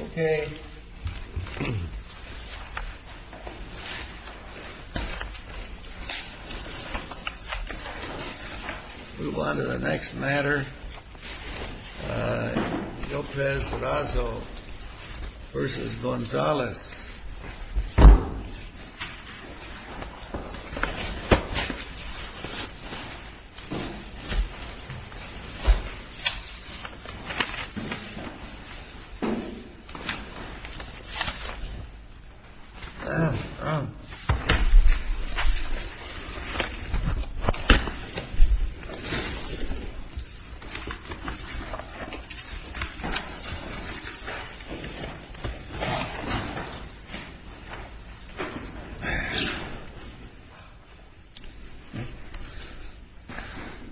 Okay, move on to the next matter, López-Razo v. Gonzales.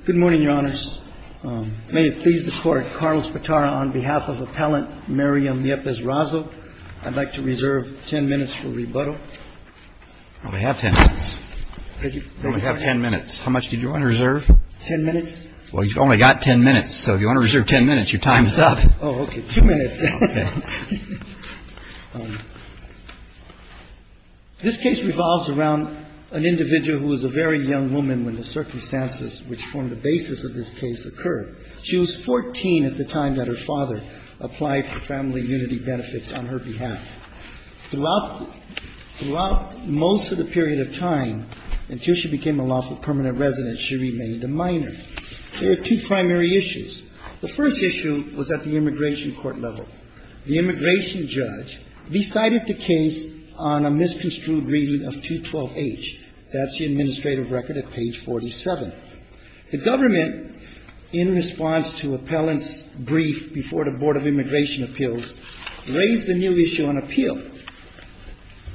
Good morning, Your Honors. May it please the Court, Carl Spatara on behalf of Appellant Miriam Yepez-Razo, I'd like to reserve 10 minutes for rebuttal. We have 10 minutes. We only have 10 minutes. How much did you want to reserve? 10 minutes. Well, you've only got 10 minutes, so if you want to reserve 10 minutes, your time is up. Oh, okay. Two minutes. This case revolves around an individual who was a very young woman when the circumstances which formed the basis of this case occurred. She was 14 at the time that her father applied for family unity benefits on her behalf. Throughout most of the period of time until she became a lawful permanent resident, she remained a minor. There are two primary issues. The first issue was at the immigration court level. The immigration judge decided the case on a misconstrued reading of 212H. That's the administrative record at page 47. The government, in response to Appellant's brief before the Board of Immigration Appeals, raised a new issue on appeal.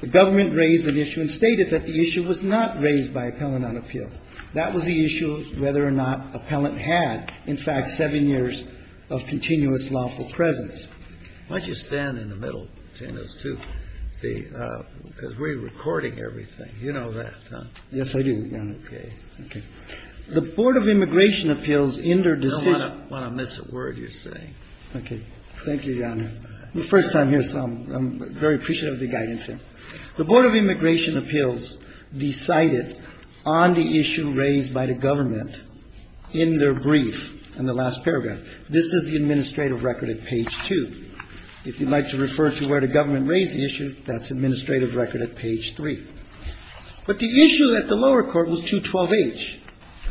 The government raised an issue and stated that the issue was not raised by Appellant on appeal. That was the issue of whether or not Appellant had, in fact, seven years of continuous lawful presence. Why don't you stand in the middle between those two? See, because we're recording everything. You know that, huh? Yes, I do, Your Honor. Okay. Okay. The Board of Immigration Appeals interdecided. I don't want to miss a word you're saying. Okay. Thank you, Your Honor. The first time here, so I'm very appreciative of the guidance here. The Board of Immigration Appeals decided on the issue raised by the government in their brief in the last paragraph. This is the administrative record at page 2. If you'd like to refer to where the government raised the issue, that's administrative record at page 3. But the issue at the lower court was 212H,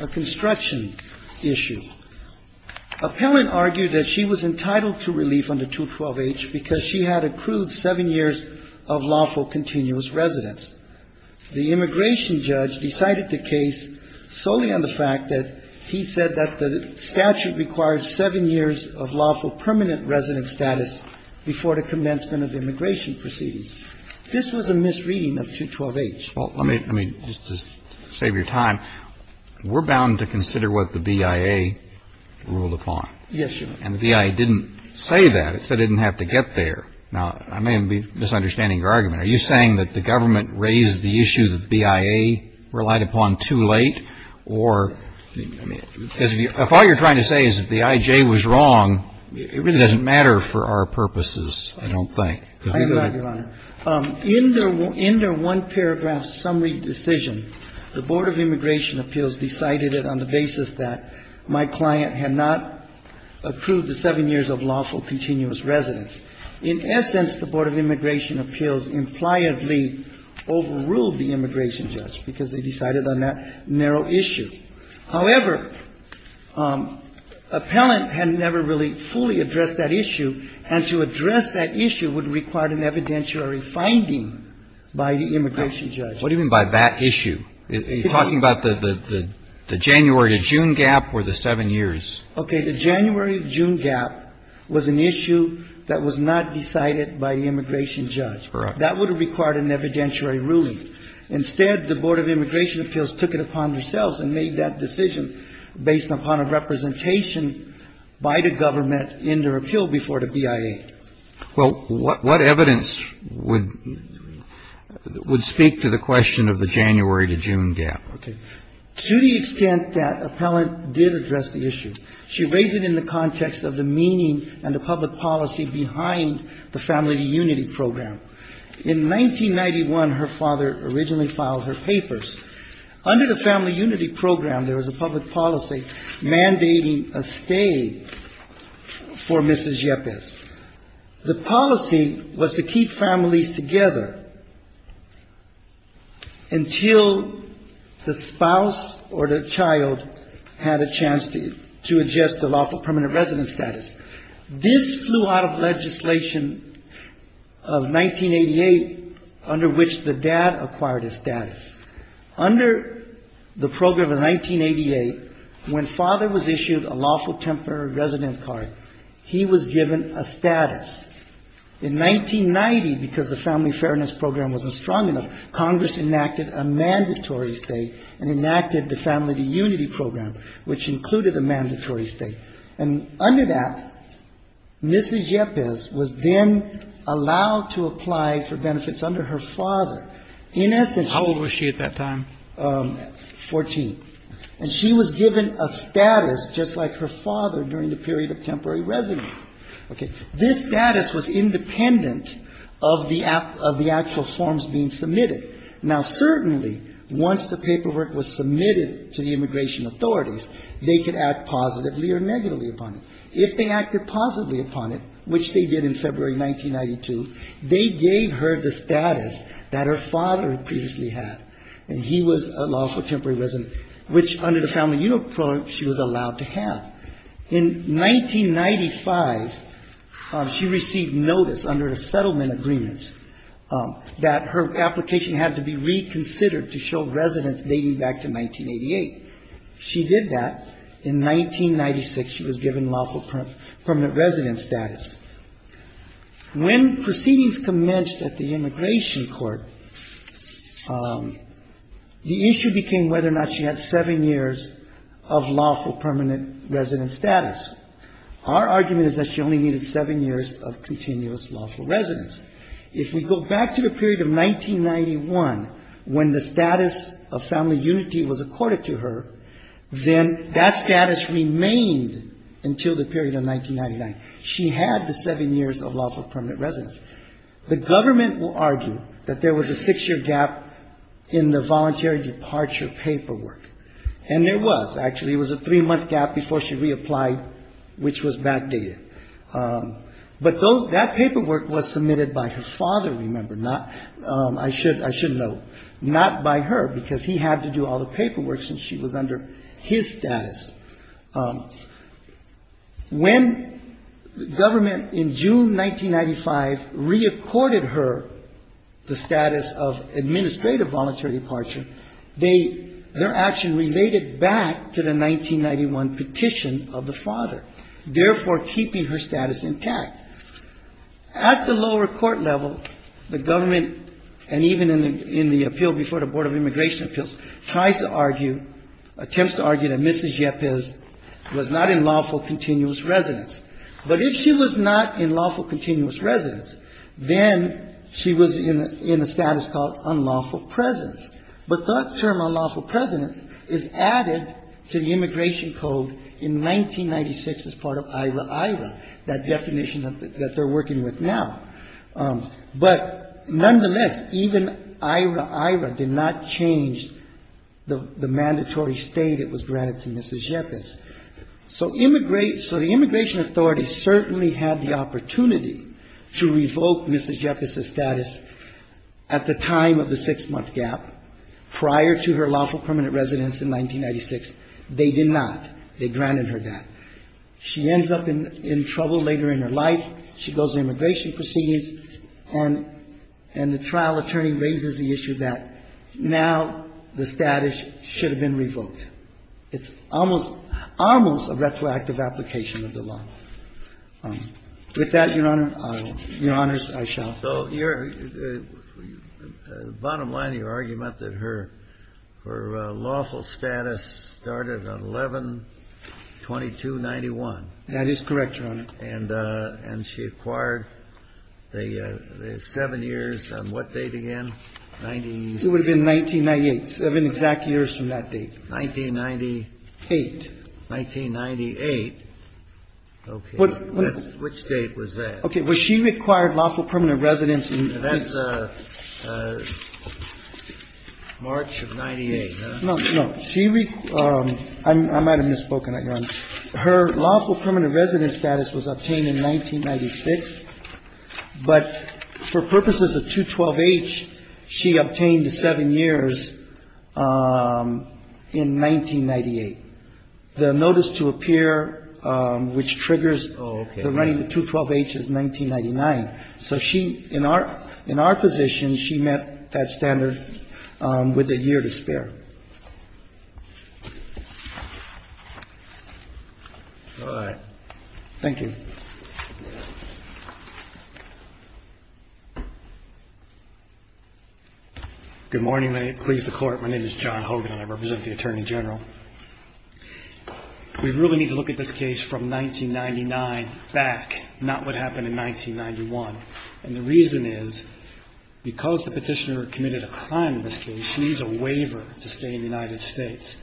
a construction issue. Appellant argued that she was entitled to relief under 212H because she had accrued seven years of lawful continuous residence. The immigration judge decided the case solely on the fact that he said that the statute requires seven years of lawful permanent resident status before the commencement of immigration proceedings. This was a misreading of 212H. Well, let me just to save your time, we're bound to consider what the BIA ruled upon. Yes, Your Honor. And the BIA didn't say that. It said it didn't have to get there. Now, I may be misunderstanding your argument. Are you saying that the government raised the issue that the BIA relied upon too late? Or, I mean, if all you're trying to say is that the IJ was wrong, it really doesn't matter for our purposes, I don't think. I agree, Your Honor. In their one paragraph summary decision, the Board of Immigration Appeals decided it on the basis that my client had not accrued the seven years of lawful continuous residence. In essence, the Board of Immigration Appeals impliedly overruled the immigration judge because they decided on that narrow issue. However, appellant had never really fully addressed that issue, and to address that issue would require an evidentiary finding by the immigration judge. What do you mean by that issue? Are you talking about the January to June gap or the seven years? Okay. The January to June gap was an issue that was not decided by the immigration judge. Correct. That would have required an evidentiary ruling. Instead, the Board of Immigration Appeals took it upon themselves and made that decision based upon a representation by the government in their appeal before the BIA. Well, what evidence would speak to the question of the January to June gap? Okay. To the extent that appellant did address the issue, she raised it in the context of the meaning and the public policy behind the Family Unity Program. In 1991, her father originally filed her papers. Under the Family Unity Program, there was a public policy mandating a stay for Mrs. Yepes. The policy was to keep families together until the spouse or the child had a chance to adjust the lawful permanent resident status. This flew out of legislation of 1988, under which the dad acquired his status. Under the program of 1988, when father was issued a lawful temporary resident card, he was given a status. In 1990, because the Family Fairness Program wasn't strong enough, Congress enacted a mandatory stay and enacted the Family Unity Program, which included a mandatory stay. And under that, Mrs. Yepes was then allowed to apply for benefits under her father. In essence, she... How old was she at that time? Fourteen. And she was given a status just like her father during the period of temporary residence. Okay. This status was independent of the actual forms being submitted. Now, certainly, once the paperwork was submitted to the immigration authorities, they could act positively or negatively upon it. If they acted positively upon it, which they did in February 1992, they gave her the status that her father previously had, and he was a lawful temporary resident which, under the Family Unity Program, she was allowed to have. In 1995, she received notice under a settlement agreement that her application had to be reconsidered to show residence dating back to 1988. She did that. In 1996, she was given lawful permanent resident status. When proceedings commenced at the immigration court, the issue became whether or not she had seven years of lawful permanent resident status. Our argument is that she only needed seven years of continuous lawful residence. If we go back to the period of 1991, when the status of family unity was accorded to her, then that status remained until the period of 1999. She had the seven years of lawful permanent residence. The government will argue that there was a six-year gap in the voluntary departure paperwork, and there was. Actually, it was a three-month gap before she reapplied, which was backdated. But that paperwork was submitted by her father, remember, not by her, because he had to do all the paperwork since she was under his status. When the government, in June 1995, reaccorded her the status of administrative voluntary departure, their action related back to the 1991 petition of the father, therefore keeping her status intact. At the lower court level, the government, and even in the appeal before the Board of Immigration Appeals, tries to argue, attempts to argue that Mrs. Yepez was not in lawful continuous residence. But if she was not in lawful continuous residence, then she was in a status called unlawful presence. But that term, unlawful presence, is added to the Immigration Code in 1996 as part of IHRA-IHRA, that definition that they're working with now. But nonetheless, even IHRA-IHRA did not change the mandatory stay that was granted to Mrs. Yepez. So the immigration authorities certainly had the opportunity to revoke Mrs. Yepez's status at the time of the six-month gap prior to her lawful permanent residence in 1996. They did not. They granted her that. She ends up in trouble later in her life. She goes to immigration proceedings, and the trial attorney raises the issue that now the status should have been revoked. It's almost a retroactive application of the law. With that, Your Honor, I will. Your Honors, I shall. Kennedy. So your – the bottom line of your argument that her lawful status started on 11-2291. That is correct, Your Honor. And she acquired the seven years on what date again? It would have been 1998, seven exact years from that date. 1998. 1998. Okay. Which date was that? Okay. Well, she required lawful permanent residence in 1998. That's March of 1998, huh? No, no. She – I might have misspoken, Your Honor. Her lawful permanent residence status was obtained in 1996, but for purposes of 212-H, she obtained the seven years in 1998. The notice to appear which triggers the running of 212-H is 1999. So she – in our position, she met that standard with a year to spare. All right. Thank you. Good morning. May it please the Court. My name is John Hogan, and I represent the Attorney General. We really need to look at this case from 1999 back, not what happened in 1991. And the reason is because the petitioner committed a crime in this case, she needs a waiver to stay in the United States.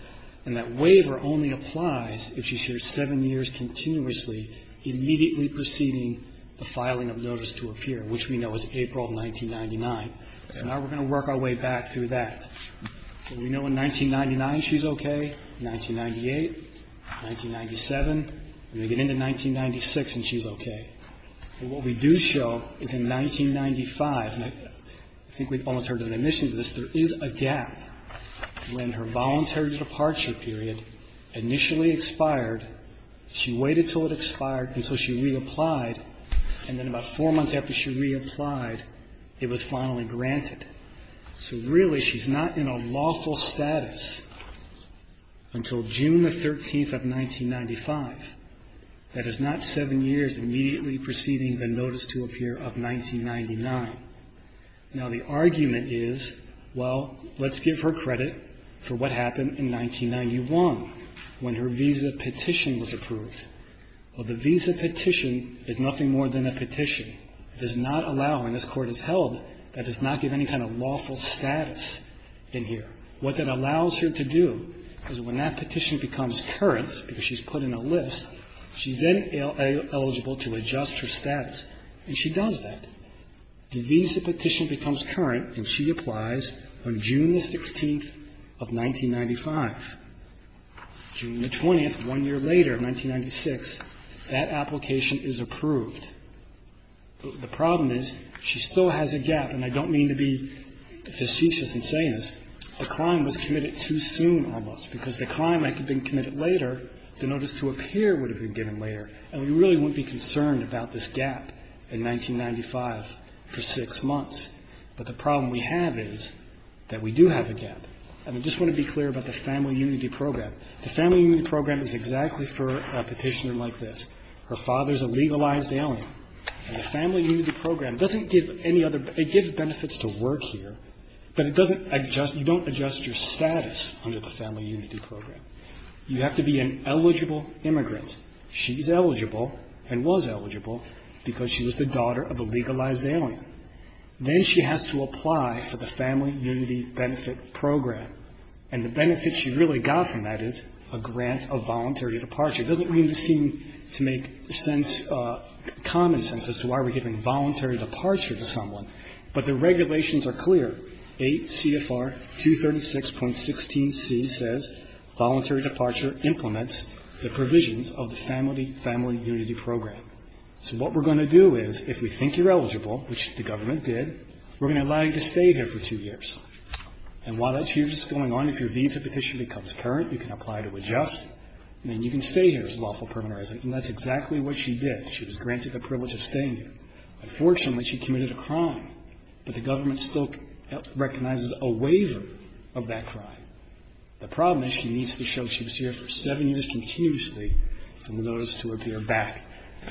And that waiver only applies if she's here seven years continuously, immediately preceding the filing of notice to appear, which we know is April of 1999. So now we're going to work our way back through that. We know in 1999 she's okay, 1998, 1997, and we get into 1996 and she's okay. But what we do show is in 1995, and I think we've almost heard an admission to this, there is a gap when her voluntary departure period initially expired. She waited until it expired, until she reapplied, and then about four months after she reapplied, it was finally granted. So really she's not in a lawful status until June the 13th of 1995. That is not seven years immediately preceding the notice to appear of 1999. Now the argument is, well, let's give her credit for what happened in 1991 when her visa petition was approved. Well, the visa petition is nothing more than a petition. It does not allow, when this Court has held, that does not give any kind of lawful status in here. What that allows her to do is when that petition becomes current, because she's put in a list, she's then eligible to adjust her status, and she does that. The visa petition becomes current and she applies on June the 16th of 1995. June the 20th, one year later, 1996, that application is approved. The problem is she still has a gap. And I don't mean to be facetious in saying this. The crime was committed too soon almost, because the crime had been committed later, the notice to appear would have been given later, and we really wouldn't be concerned about this gap in 1995 for six months. But the problem we have is that we do have a gap. And I just want to be clear about the Family Unity Program. The Family Unity Program is exactly for a petitioner like this. Her father is a legalized alien. And the Family Unity Program doesn't give any other, it gives benefits to work here, but it doesn't adjust, you don't adjust your status under the Family Unity Program. You have to be an eligible immigrant. She's eligible and was eligible because she was the daughter of a legalized alien. Then she has to apply for the Family Unity Benefit Program. And the benefit she really got from that is a grant of voluntary departure. It doesn't really seem to make sense, common sense as to why we're giving voluntary departure to someone. But the regulations are clear. 8 CFR 236.16c says, Voluntary departure implements the provisions of the Family Unity Program. So what we're going to do is, if we think you're eligible, which the government did, we're going to allow you to stay here for two years. And while that two years is going on, if your visa petition becomes current, you can apply to adjust. I mean, you can stay here as a lawful permanent resident. And that's exactly what she did. She was granted the privilege of staying here. Unfortunately, she committed a crime. But the government still recognizes a waiver of that crime. The problem is she needs to show she was here for seven years continuously for the notice to appear back.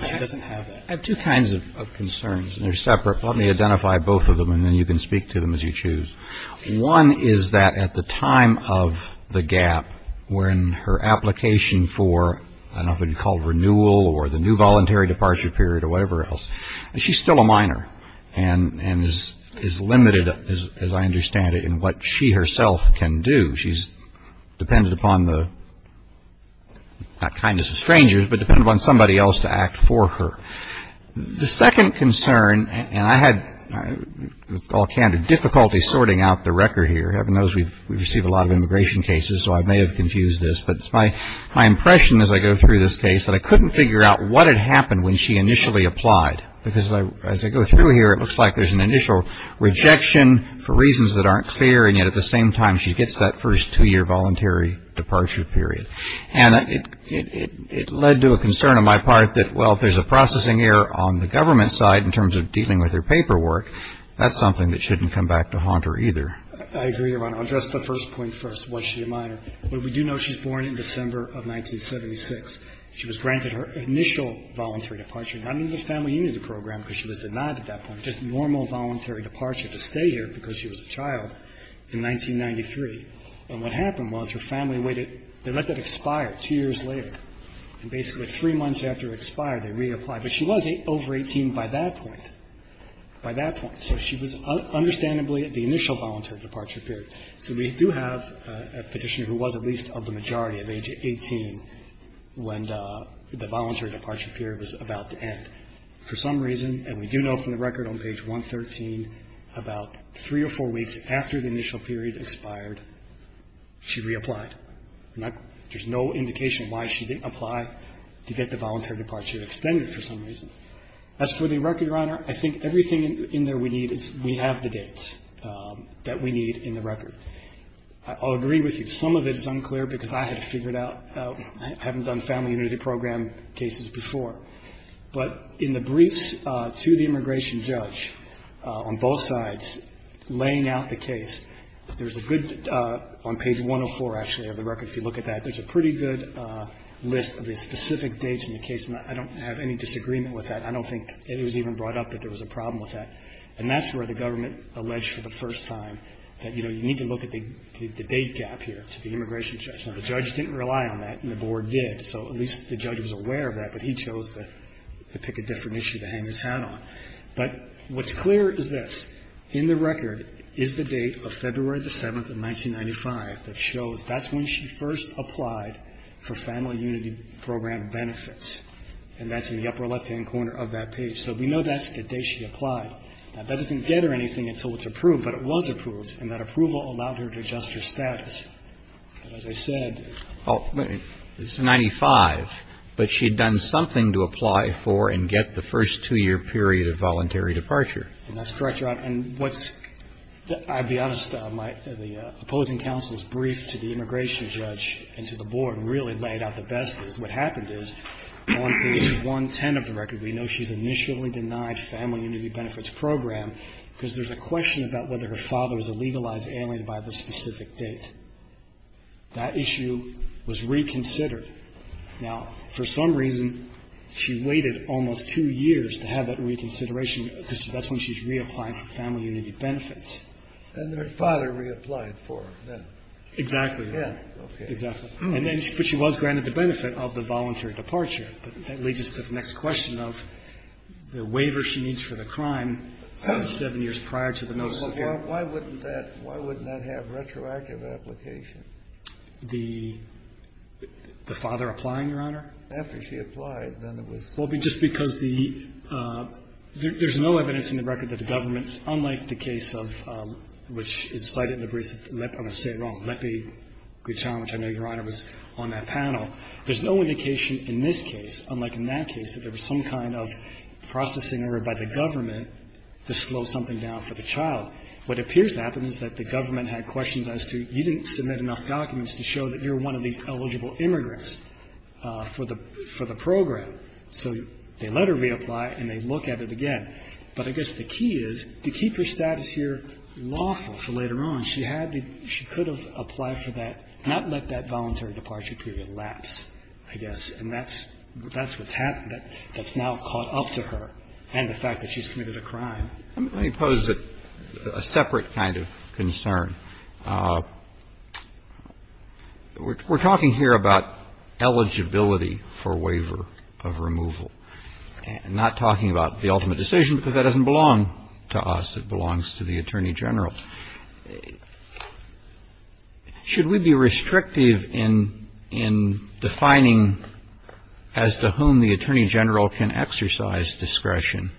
She doesn't have that. I have two kinds of concerns, and they're separate. Let me identify both of them, and then you can speak to them as you choose. One is that at the time of the gap, when her application for, I don't know if it would be called renewal or the new voluntary departure period or whatever else, she's still a minor and is limited, as I understand it, in what she herself can do. She's dependent upon the, not kindness of strangers, but dependent upon somebody else to act for her. The second concern, and I had, with all candor, difficulty sorting out the record here. I've noticed we receive a lot of immigration cases, so I may have confused this. But it's my impression as I go through this case that I couldn't figure out what had happened when she initially applied. Because as I go through here, it looks like there's an initial rejection for reasons that aren't clear. And yet at the same time, she gets that first two-year voluntary departure period. And it led to a concern on my part that, well, if there's a processing error on the government side in terms of dealing with her paperwork, that's something that shouldn't come back to haunt her either. I agree, Your Honor. I'll address the first point first. Was she a minor? Well, we do know she was born in December of 1976. She was granted her initial voluntary departure, not in the family union program because she was denied at that point, just normal voluntary departure to stay here because she was a child in 1993. And what happened was her family waited. They let that expire two years later. And basically three months after it expired, they reapplied. But she was over 18 by that point, by that point. So she was understandably at the initial voluntary departure period. So we do have a Petitioner who was at least of the majority of age 18 when the voluntary departure period was about to end for some reason. And we do know from the record on page 113 about three or four weeks after the initial period expired, she reapplied. There's no indication why she didn't apply to get the voluntary departure extended for some reason. As for the record, Your Honor, I think everything in there we need is we have the dates that we need in the record. I'll agree with you. Some of it is unclear because I had to figure it out. I haven't done family union program cases before. But in the briefs to the immigration judge on both sides laying out the case, there's a good, on page 104, actually, of the record, if you look at that, there's a pretty good list of the specific dates in the case. And I don't have any disagreement with that. I don't think it was even brought up that there was a problem with that. And that's where the government alleged for the first time that, you know, you need to look at the date gap here to the immigration judge. Now, the judge didn't rely on that, and the board did. So at least the judge was aware of that, but he chose to pick a different issue to hang his hat on. But what's clear is this. In the record is the date of February the 7th of 1995 that shows that's when she first applied for family unity program benefits. And that's in the upper left-hand corner of that page. So we know that's the day she applied. That doesn't get her anything until it's approved, but it was approved, and that approval allowed her to adjust her status. But as I said ---- This is 95, but she had done something to apply for and get the first two-year period of voluntary departure. That's correct, Your Honor. And what's the ---- I'll be honest. The opposing counsel's brief to the immigration judge and to the board really laid out the best. What happened is on page 110 of the record, we know she's initially denied family unity benefits program because there's a question about whether her father is a legalized alien by the specific date. That issue was reconsidered. Now, for some reason, she waited almost two years to have that reconsideration because that's when she's reapplied for family unity benefits. And her father reapplied for them. Exactly. Yeah. Okay. Exactly. And then she was granted the benefit of the voluntary departure. But that leads us to the next question of the waiver she needs for the crime seven years prior to the notice of ---- Well, why wouldn't that have retroactive application? The father applying, Your Honor? After she applied, then it was ---- Well, just because the ---- there's no evidence in the record that the government's unlike the case of which is cited in the briefs of Lepi, I'm going to say it wrong, Lepi-Guichon, which I know, Your Honor, was on that panel. There's no indication in this case, unlike in that case, that there was some kind of processing error by the government to slow something down for the child. What appears to happen is that the government had questions as to you didn't submit enough documents to show that you're one of these eligible immigrants for the program. So they let her reapply and they look at it again. But I guess the key is to keep her status here lawful for later on. She had the ---- she could have applied for that, not let that voluntary departure period lapse, I guess. And that's what's happened. That's now caught up to her and the fact that she's committed a crime. Let me pose a separate kind of concern. We're talking here about eligibility for waiver of removal and not talking about the ultimate decision because that doesn't belong to us. It belongs to the Attorney General. Should we be restrictive in defining as to whom the Attorney General can exercise discretion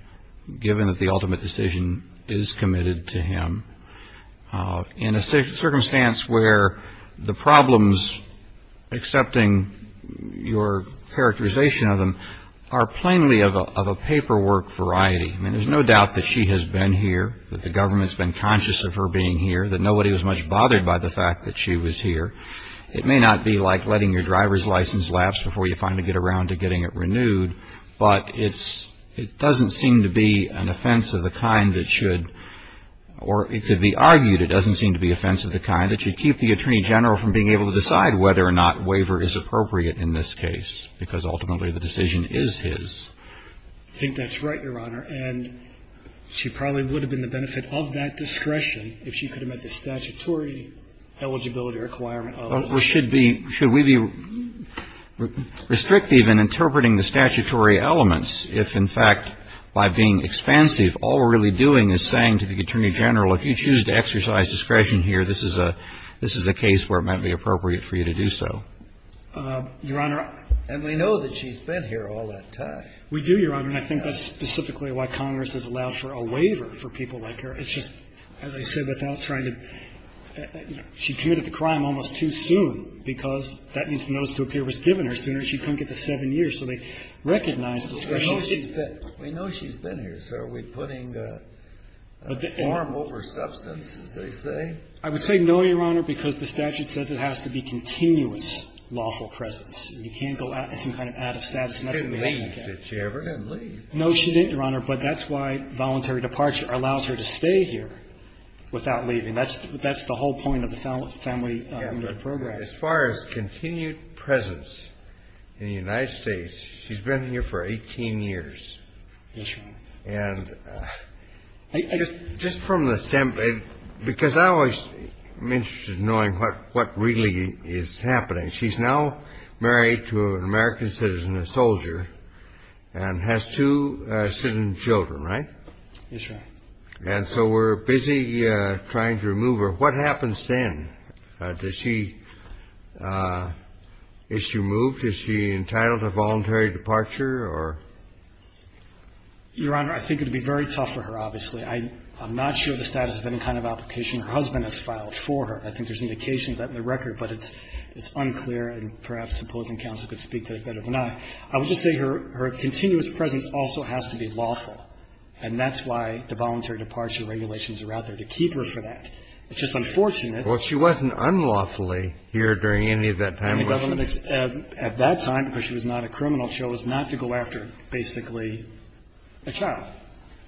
given that the ultimate decision is committed to him in a circumstance where the problems, excepting your characterization of them, are plainly of a paperwork variety? I mean, there's no doubt that she has been here, that the government's been conscious of her being here, that nobody was much bothered by the fact that she was here. It may not be like letting your driver's license lapse before you finally get around to getting it renewed, but it doesn't seem to be an offense of the kind that should or it could be argued it doesn't seem to be an offense of the kind that should keep the Attorney General from being able to decide whether or not waiver is appropriate in this case because ultimately the decision is his. I think that's right, Your Honor, and she probably would have been the benefit of that discretion if she could have met the statutory eligibility requirement of this. Should we be restrictive in interpreting the statutory elements if, in fact, by being expansive, all we're really doing is saying to the Attorney General, if you choose to exercise discretion here, this is a case where it might be appropriate for you to do so? Your Honor ---- And we know that she's been here all that time. We do, Your Honor, and I think that's specifically why Congress has allowed for a waiver for people like her. It's just, as I said, without trying to ---- she committed the crime almost too soon because that needs to notice to appear was given her sooner. She couldn't get to seven years, so they recognized discretion. We know she's been here. So are we putting a form over substance, as they say? I would say no, Your Honor, because the statute says it has to be continuous lawful presence. You can't go out to some kind of out-of-status method. She didn't leave. Did she ever leave? No, she didn't, Your Honor, but that's why voluntary departure allows her to stay here without leaving. That's the whole point of the family program. As far as continued presence in the United States, she's been here for 18 years. Yes, Your Honor. And just from the standpoint, because I always am interested in knowing what really is happening. She's now married to an American citizen, a soldier, and has two citizen children, right? Yes, Your Honor. And so we're busy trying to remove her. What happens then? Does she ---- is she removed? Is she entitled to voluntary departure or ----? Your Honor, I think it would be very tough for her, obviously. I'm not sure the status of any kind of application her husband has filed for her. I think there's indications of that in the record, but it's unclear and perhaps opposing counsel could speak to it better than I. I would just say her continuous presence also has to be lawful, and that's why the voluntary departure regulations are out there to keep her for that. It's just unfortunate that ---- Well, she wasn't unlawfully here during any of that time, was she? At that time, because she was not a criminal, she chose not to go after basically a child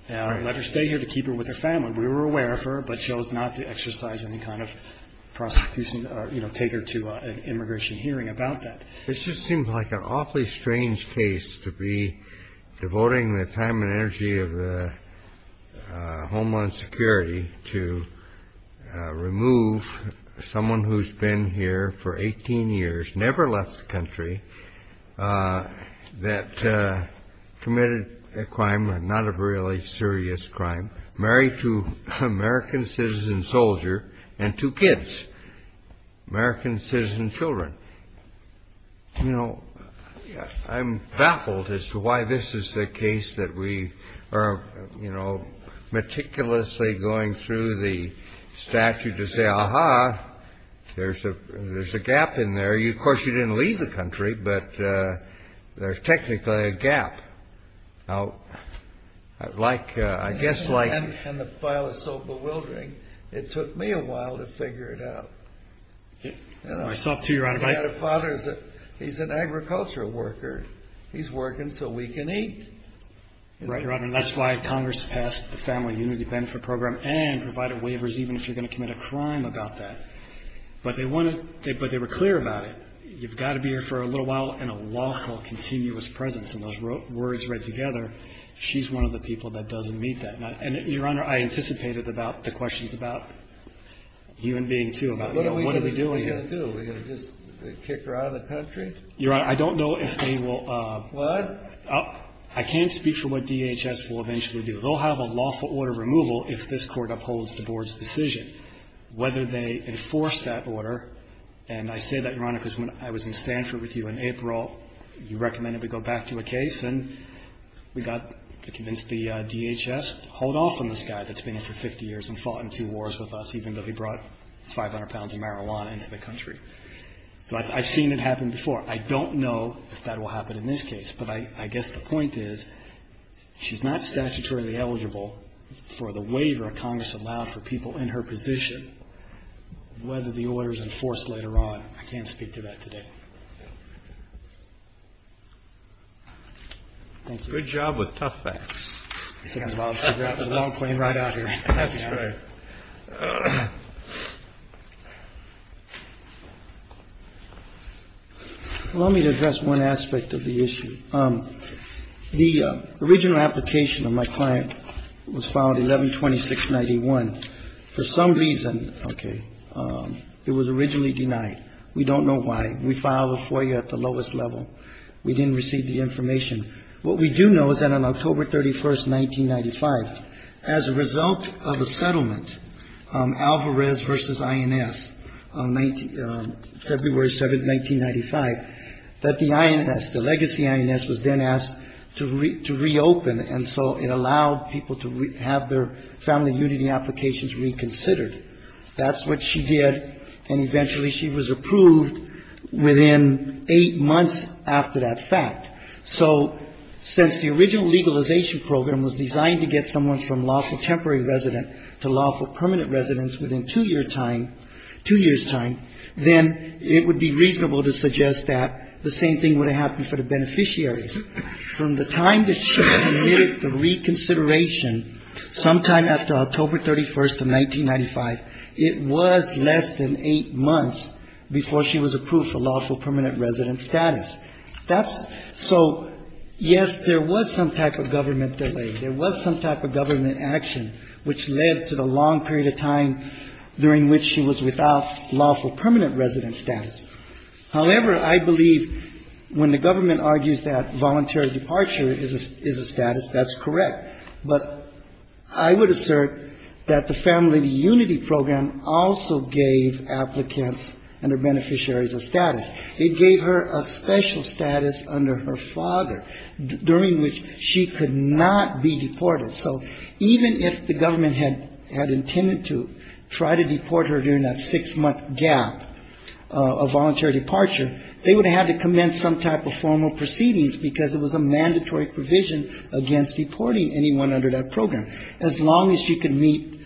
and let her stay here to keep her with her family. We were aware of her, but chose not to exercise any kind of prosecution or take her to an immigration hearing about that. This just seems like an awfully strange case to be devoting the time and energy of the Homeland Security to remove someone who's been here for 18 years, never left the country, that committed a crime, not a really serious crime, married to an American citizen soldier and two kids, American citizen children. You know, I'm baffled as to why this is the case that we are, you know, meticulously going through the statute to say, aha, there's a gap in there. Of course, you didn't leave the country, but there's technically a gap. Now, I guess like ---- And the file is so bewildering, it took me a while to figure it out. Myself, too, Your Honor. My father, he's an agricultural worker. He's working so we can eat. Right, Your Honor. And that's why Congress passed the Family Unity Benefit Program and provided waivers, even if you're going to commit a crime about that. But they were clear about it. You've got to be here for a little while in a lawful, continuous presence. And those words read together, she's one of the people that doesn't meet that. And, Your Honor, I anticipated about the questions about human being, too, about what do we do What are we going to do? Are we going to just kick her out of the country? Your Honor, I don't know if they will ---- What? I can't speak for what DHS will eventually do. They'll have a lawful order of removal if this Court upholds the Board's decision. Whether they enforce that order, and I say that, Your Honor, because when I was in Stanford with you in April, you recommended we go back to a case, and we got to convince the DHS to hold off on this guy that's been here for 50 years and fought in two wars with us, even though he brought 500 pounds of marijuana into the country. So I've seen it happen before. I don't know if that will happen in this case. But I guess the point is, she's not statutorily eligible for the waiver Congress allowed for people in her position, whether the order is enforced later on. I can't speak to that today. Thank you. Good job with tough facts. That was a long plane ride out here. That's right. Allow me to address one aspect of the issue. The original application of my client was filed 11-2691. For some reason, okay, it was originally denied. We don't know why. We filed it for you at the lowest level. We didn't receive the information. What we do know is that on October 31, 1995, as a result of a settlement, Alvarez v. INS, February 7, 1995, that the INS, the legacy INS, was then asked to reopen, and so it allowed people to have their family unity applications reconsidered. That's what she did, and eventually she was approved within eight months after that fact. So since the original legalization program was designed to get someone from lawful temporary resident to lawful permanent resident within two-year time, two years' time, then it would be reasonable to suggest that the same thing would have happened for the beneficiaries. From the time that she submitted the reconsideration sometime after October 31, 1995, it was less than eight months before she was approved for lawful permanent resident status. That's so, yes, there was some type of government delay. There was some type of government action which led to the long period of time during which she was without lawful permanent resident status. However, I believe when the government argues that voluntary departure is a status, that's correct. But I would assert that the family unity program also gave applicants and their beneficiaries a status. It gave her a special status under her father during which she could not be deported. So even if the government had intended to try to deport her during that six-month gap of voluntary departure, they would have had to commence some type of formal proceedings because it was a mandatory provision against deporting anyone under that program, as long as she could meet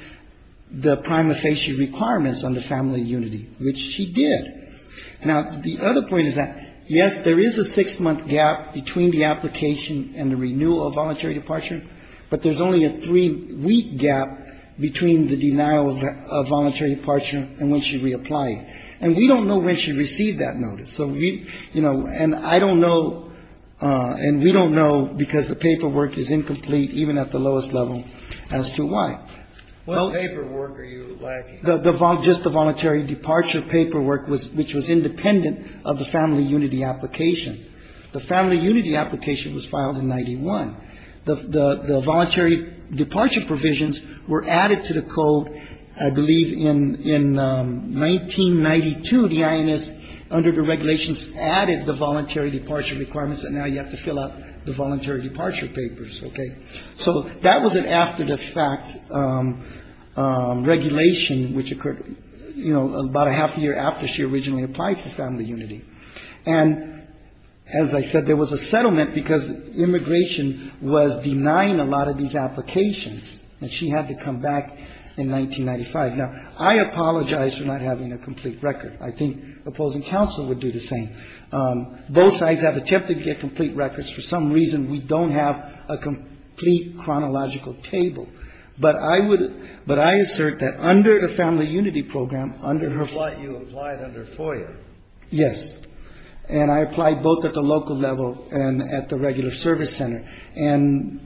the prima facie requirements under family unity, which she did. Now, the other point is that, yes, there is a six-month gap between the application and the renewal of voluntary departure, but there's only a three-week gap between the denial of voluntary departure and when she reapplied. And we don't know when she received that notice. So we, you know, and I don't know, and we don't know because the paperwork is incomplete even at the lowest level as to why. What paperwork are you lacking? Just the voluntary departure paperwork, which was independent of the family unity application. The family unity application was filed in 91. The voluntary departure provisions were added to the code, I believe, in 1992. The INS, under the regulations, added the voluntary departure requirements, and now you have to fill out the voluntary departure papers, okay? So that was an after-the-fact regulation which occurred, you know, about a half a year after she originally applied for family unity. And as I said, there was a settlement because immigration was denying a lot of these applications, and she had to come back in 1995. Now, I apologize for not having a complete record. I think opposing counsel would do the same. Both sides have attempted to get complete records. For some reason, we don't have a complete chronological table. But I would – but I assert that under the family unity program, under her – That's what you applied under FOIA. Yes. And I applied both at the local level and at the regular service center. And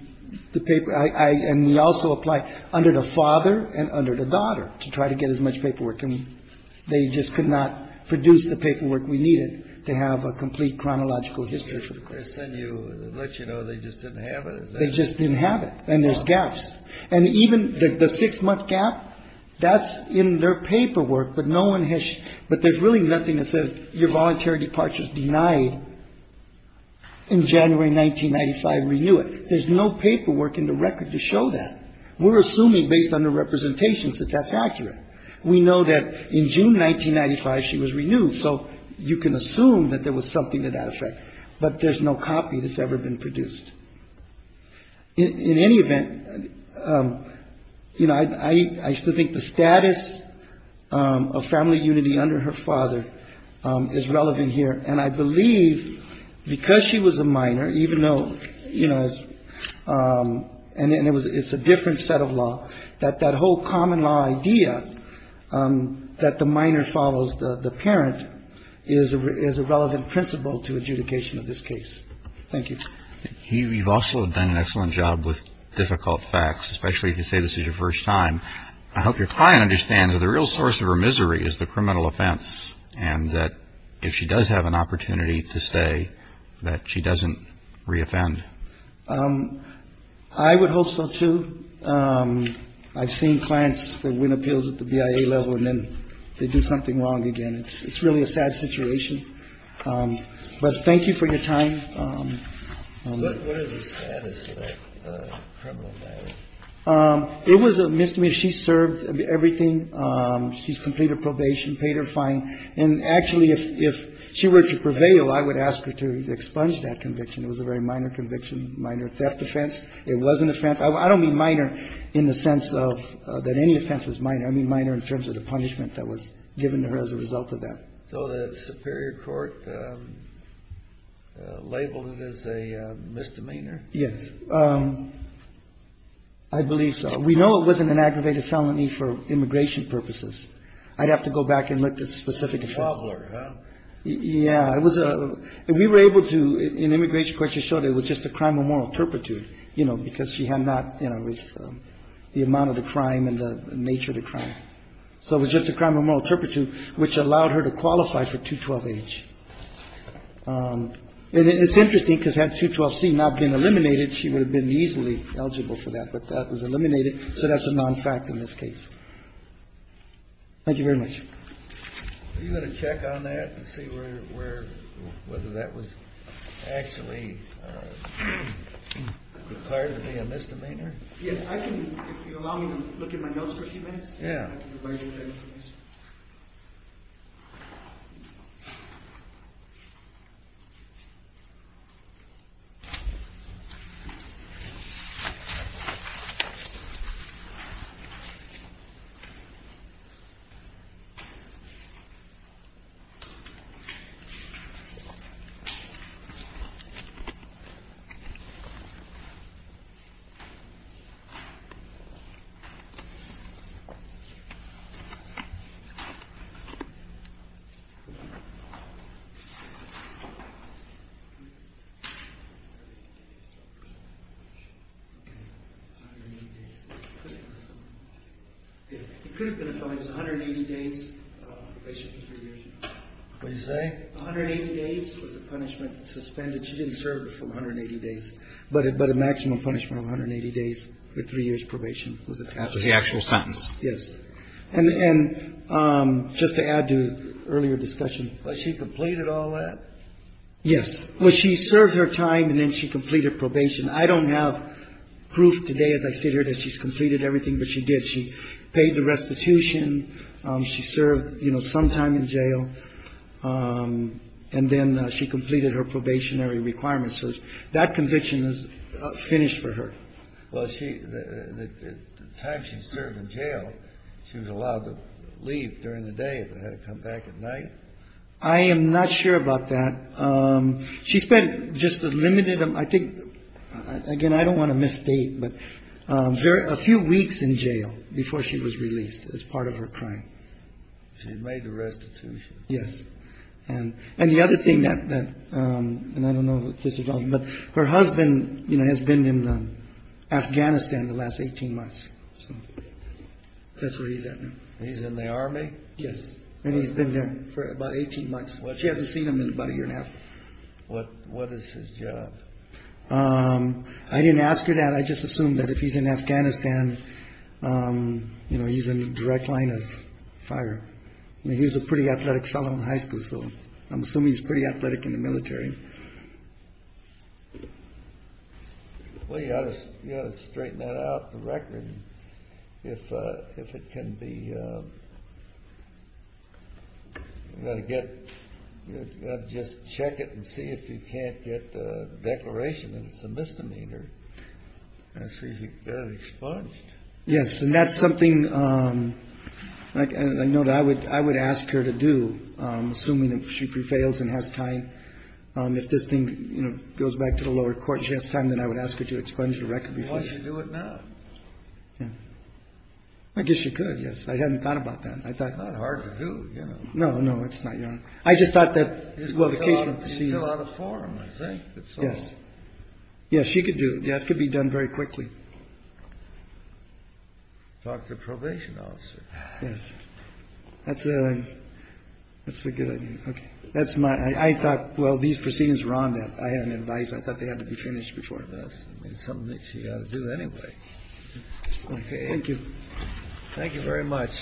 the paper – and we also applied under the father and under the daughter to try to get as much paperwork. And they just could not produce the paperwork we needed to have a complete chronological history. And you let you know they just didn't have it? They just didn't have it. And there's gaps. And even the six-month gap, that's in their paperwork. But no one has – but there's really nothing that says your voluntary departure is denied in January 1995. Renew it. There's no paperwork in the record to show that. We're assuming based on the representations that that's accurate. We know that in June 1995, she was renewed. So you can assume that there was something to that effect. But there's no copy that's ever been produced. In any event, you know, I still think the status of family unity under her father is relevant here. And I believe because she was a minor, even though, you know, and it's a different set of law, that that whole common law idea that the minor follows the parent is a relevant principle to adjudication of this case. Thank you. You've also done an excellent job with difficult facts, especially if you say this is your first time. I hope your client understands that the real source of her misery is the criminal offense and that if she does have an opportunity to stay, that she doesn't reoffend. I would hope so, too. I've seen clients that win appeals at the BIA level and then they do something wrong again. It's really a sad situation. But thank you for your time. What is the status of the criminal matter? It was a misdemeanor. She served everything. She's completed probation, paid her fine. And actually, if she were to prevail, I would ask her to expunge that conviction. It was a very minor conviction, minor theft offense. It was an offense. I don't mean minor in the sense of that any offense is minor. I mean minor in terms of the punishment that was given to her as a result of that. So the superior court labeled it as a misdemeanor? Yes. I believe so. We know it wasn't an aggravated felony for immigration purposes. I'd have to go back and look at the specific offense. A toddler, huh? Yeah. We were able to, in immigration courts, to show that it was just a crime of moral turpitude, you know, because she had not, you know, the amount of the crime and the nature of the crime. So it was just a crime of moral turpitude, which allowed her to qualify for 212-H. And it's interesting because had 212-C not been eliminated, she would have been easily eligible for that. But that was eliminated. So that's a non-fact in this case. Thank you very much. Are you going to check on that and see whether that was actually declared to be a misdemeanor? Yeah, if you allow me to look in my notes for a few minutes. Yeah. Okay. It could have been a felony. It was 180 days probation for three years. What did you say? 180 days was the punishment suspended. She didn't serve for 180 days. But a maximum punishment of 180 days for three years probation was attached. That was the actual sentence. Yes. And just to add to the earlier discussion. Was she completed all that? Yes. Well, she served her time and then she completed probation. I don't have proof today as I sit here that she's completed everything, but she did. She paid the restitution. She served, you know, some time in jail. And then she completed her probationary requirements. So that conviction is finished for her. Well, the time she served in jail, she was allowed to leave during the day, but had to come back at night? I am not sure about that. She spent just a limited. I think, again, I don't want to misstate, but a few weeks in jail before she was released as part of her crime. She made the restitution. Yes. And the other thing that I don't know, but her husband has been in Afghanistan the last 18 months. So that's where he's at now. He's in the army? Yes. And he's been there for about 18 months. She hasn't seen him in about a year and a half. What is his job? I didn't ask her that. I just assumed that if he's in Afghanistan, you know, he's in the direct line of fire. He was a pretty athletic fellow in high school, so I'm assuming he's pretty athletic in the military. Well, you've got to straighten that out, the record. If it can be, you've got to get, you've got to just check it and see if you can't get a declaration that it's a misdemeanor. I see you've got it expunged. Yes, and that's something I know that I would ask her to do, assuming that she prevails and has time. If this thing, you know, goes back to the lower court and she has time, then I would ask her to expunge the record. Why don't you do it now? I guess you could, yes. I hadn't thought about that. It's not hard to do, you know. No, no, it's not, Your Honor. I just thought that, well, the case would be seized. He's still out of form, I think. Yes. Yes, she could do it. Yes, it could be done very quickly. Talk to the probation officer. Yes. That's a good idea. Okay. That's my – I thought, well, these proceedings were on that. I had an advice. I thought they had to be finished before this. It's something that she's got to do anyway. Okay. Thank you. Thank you very much.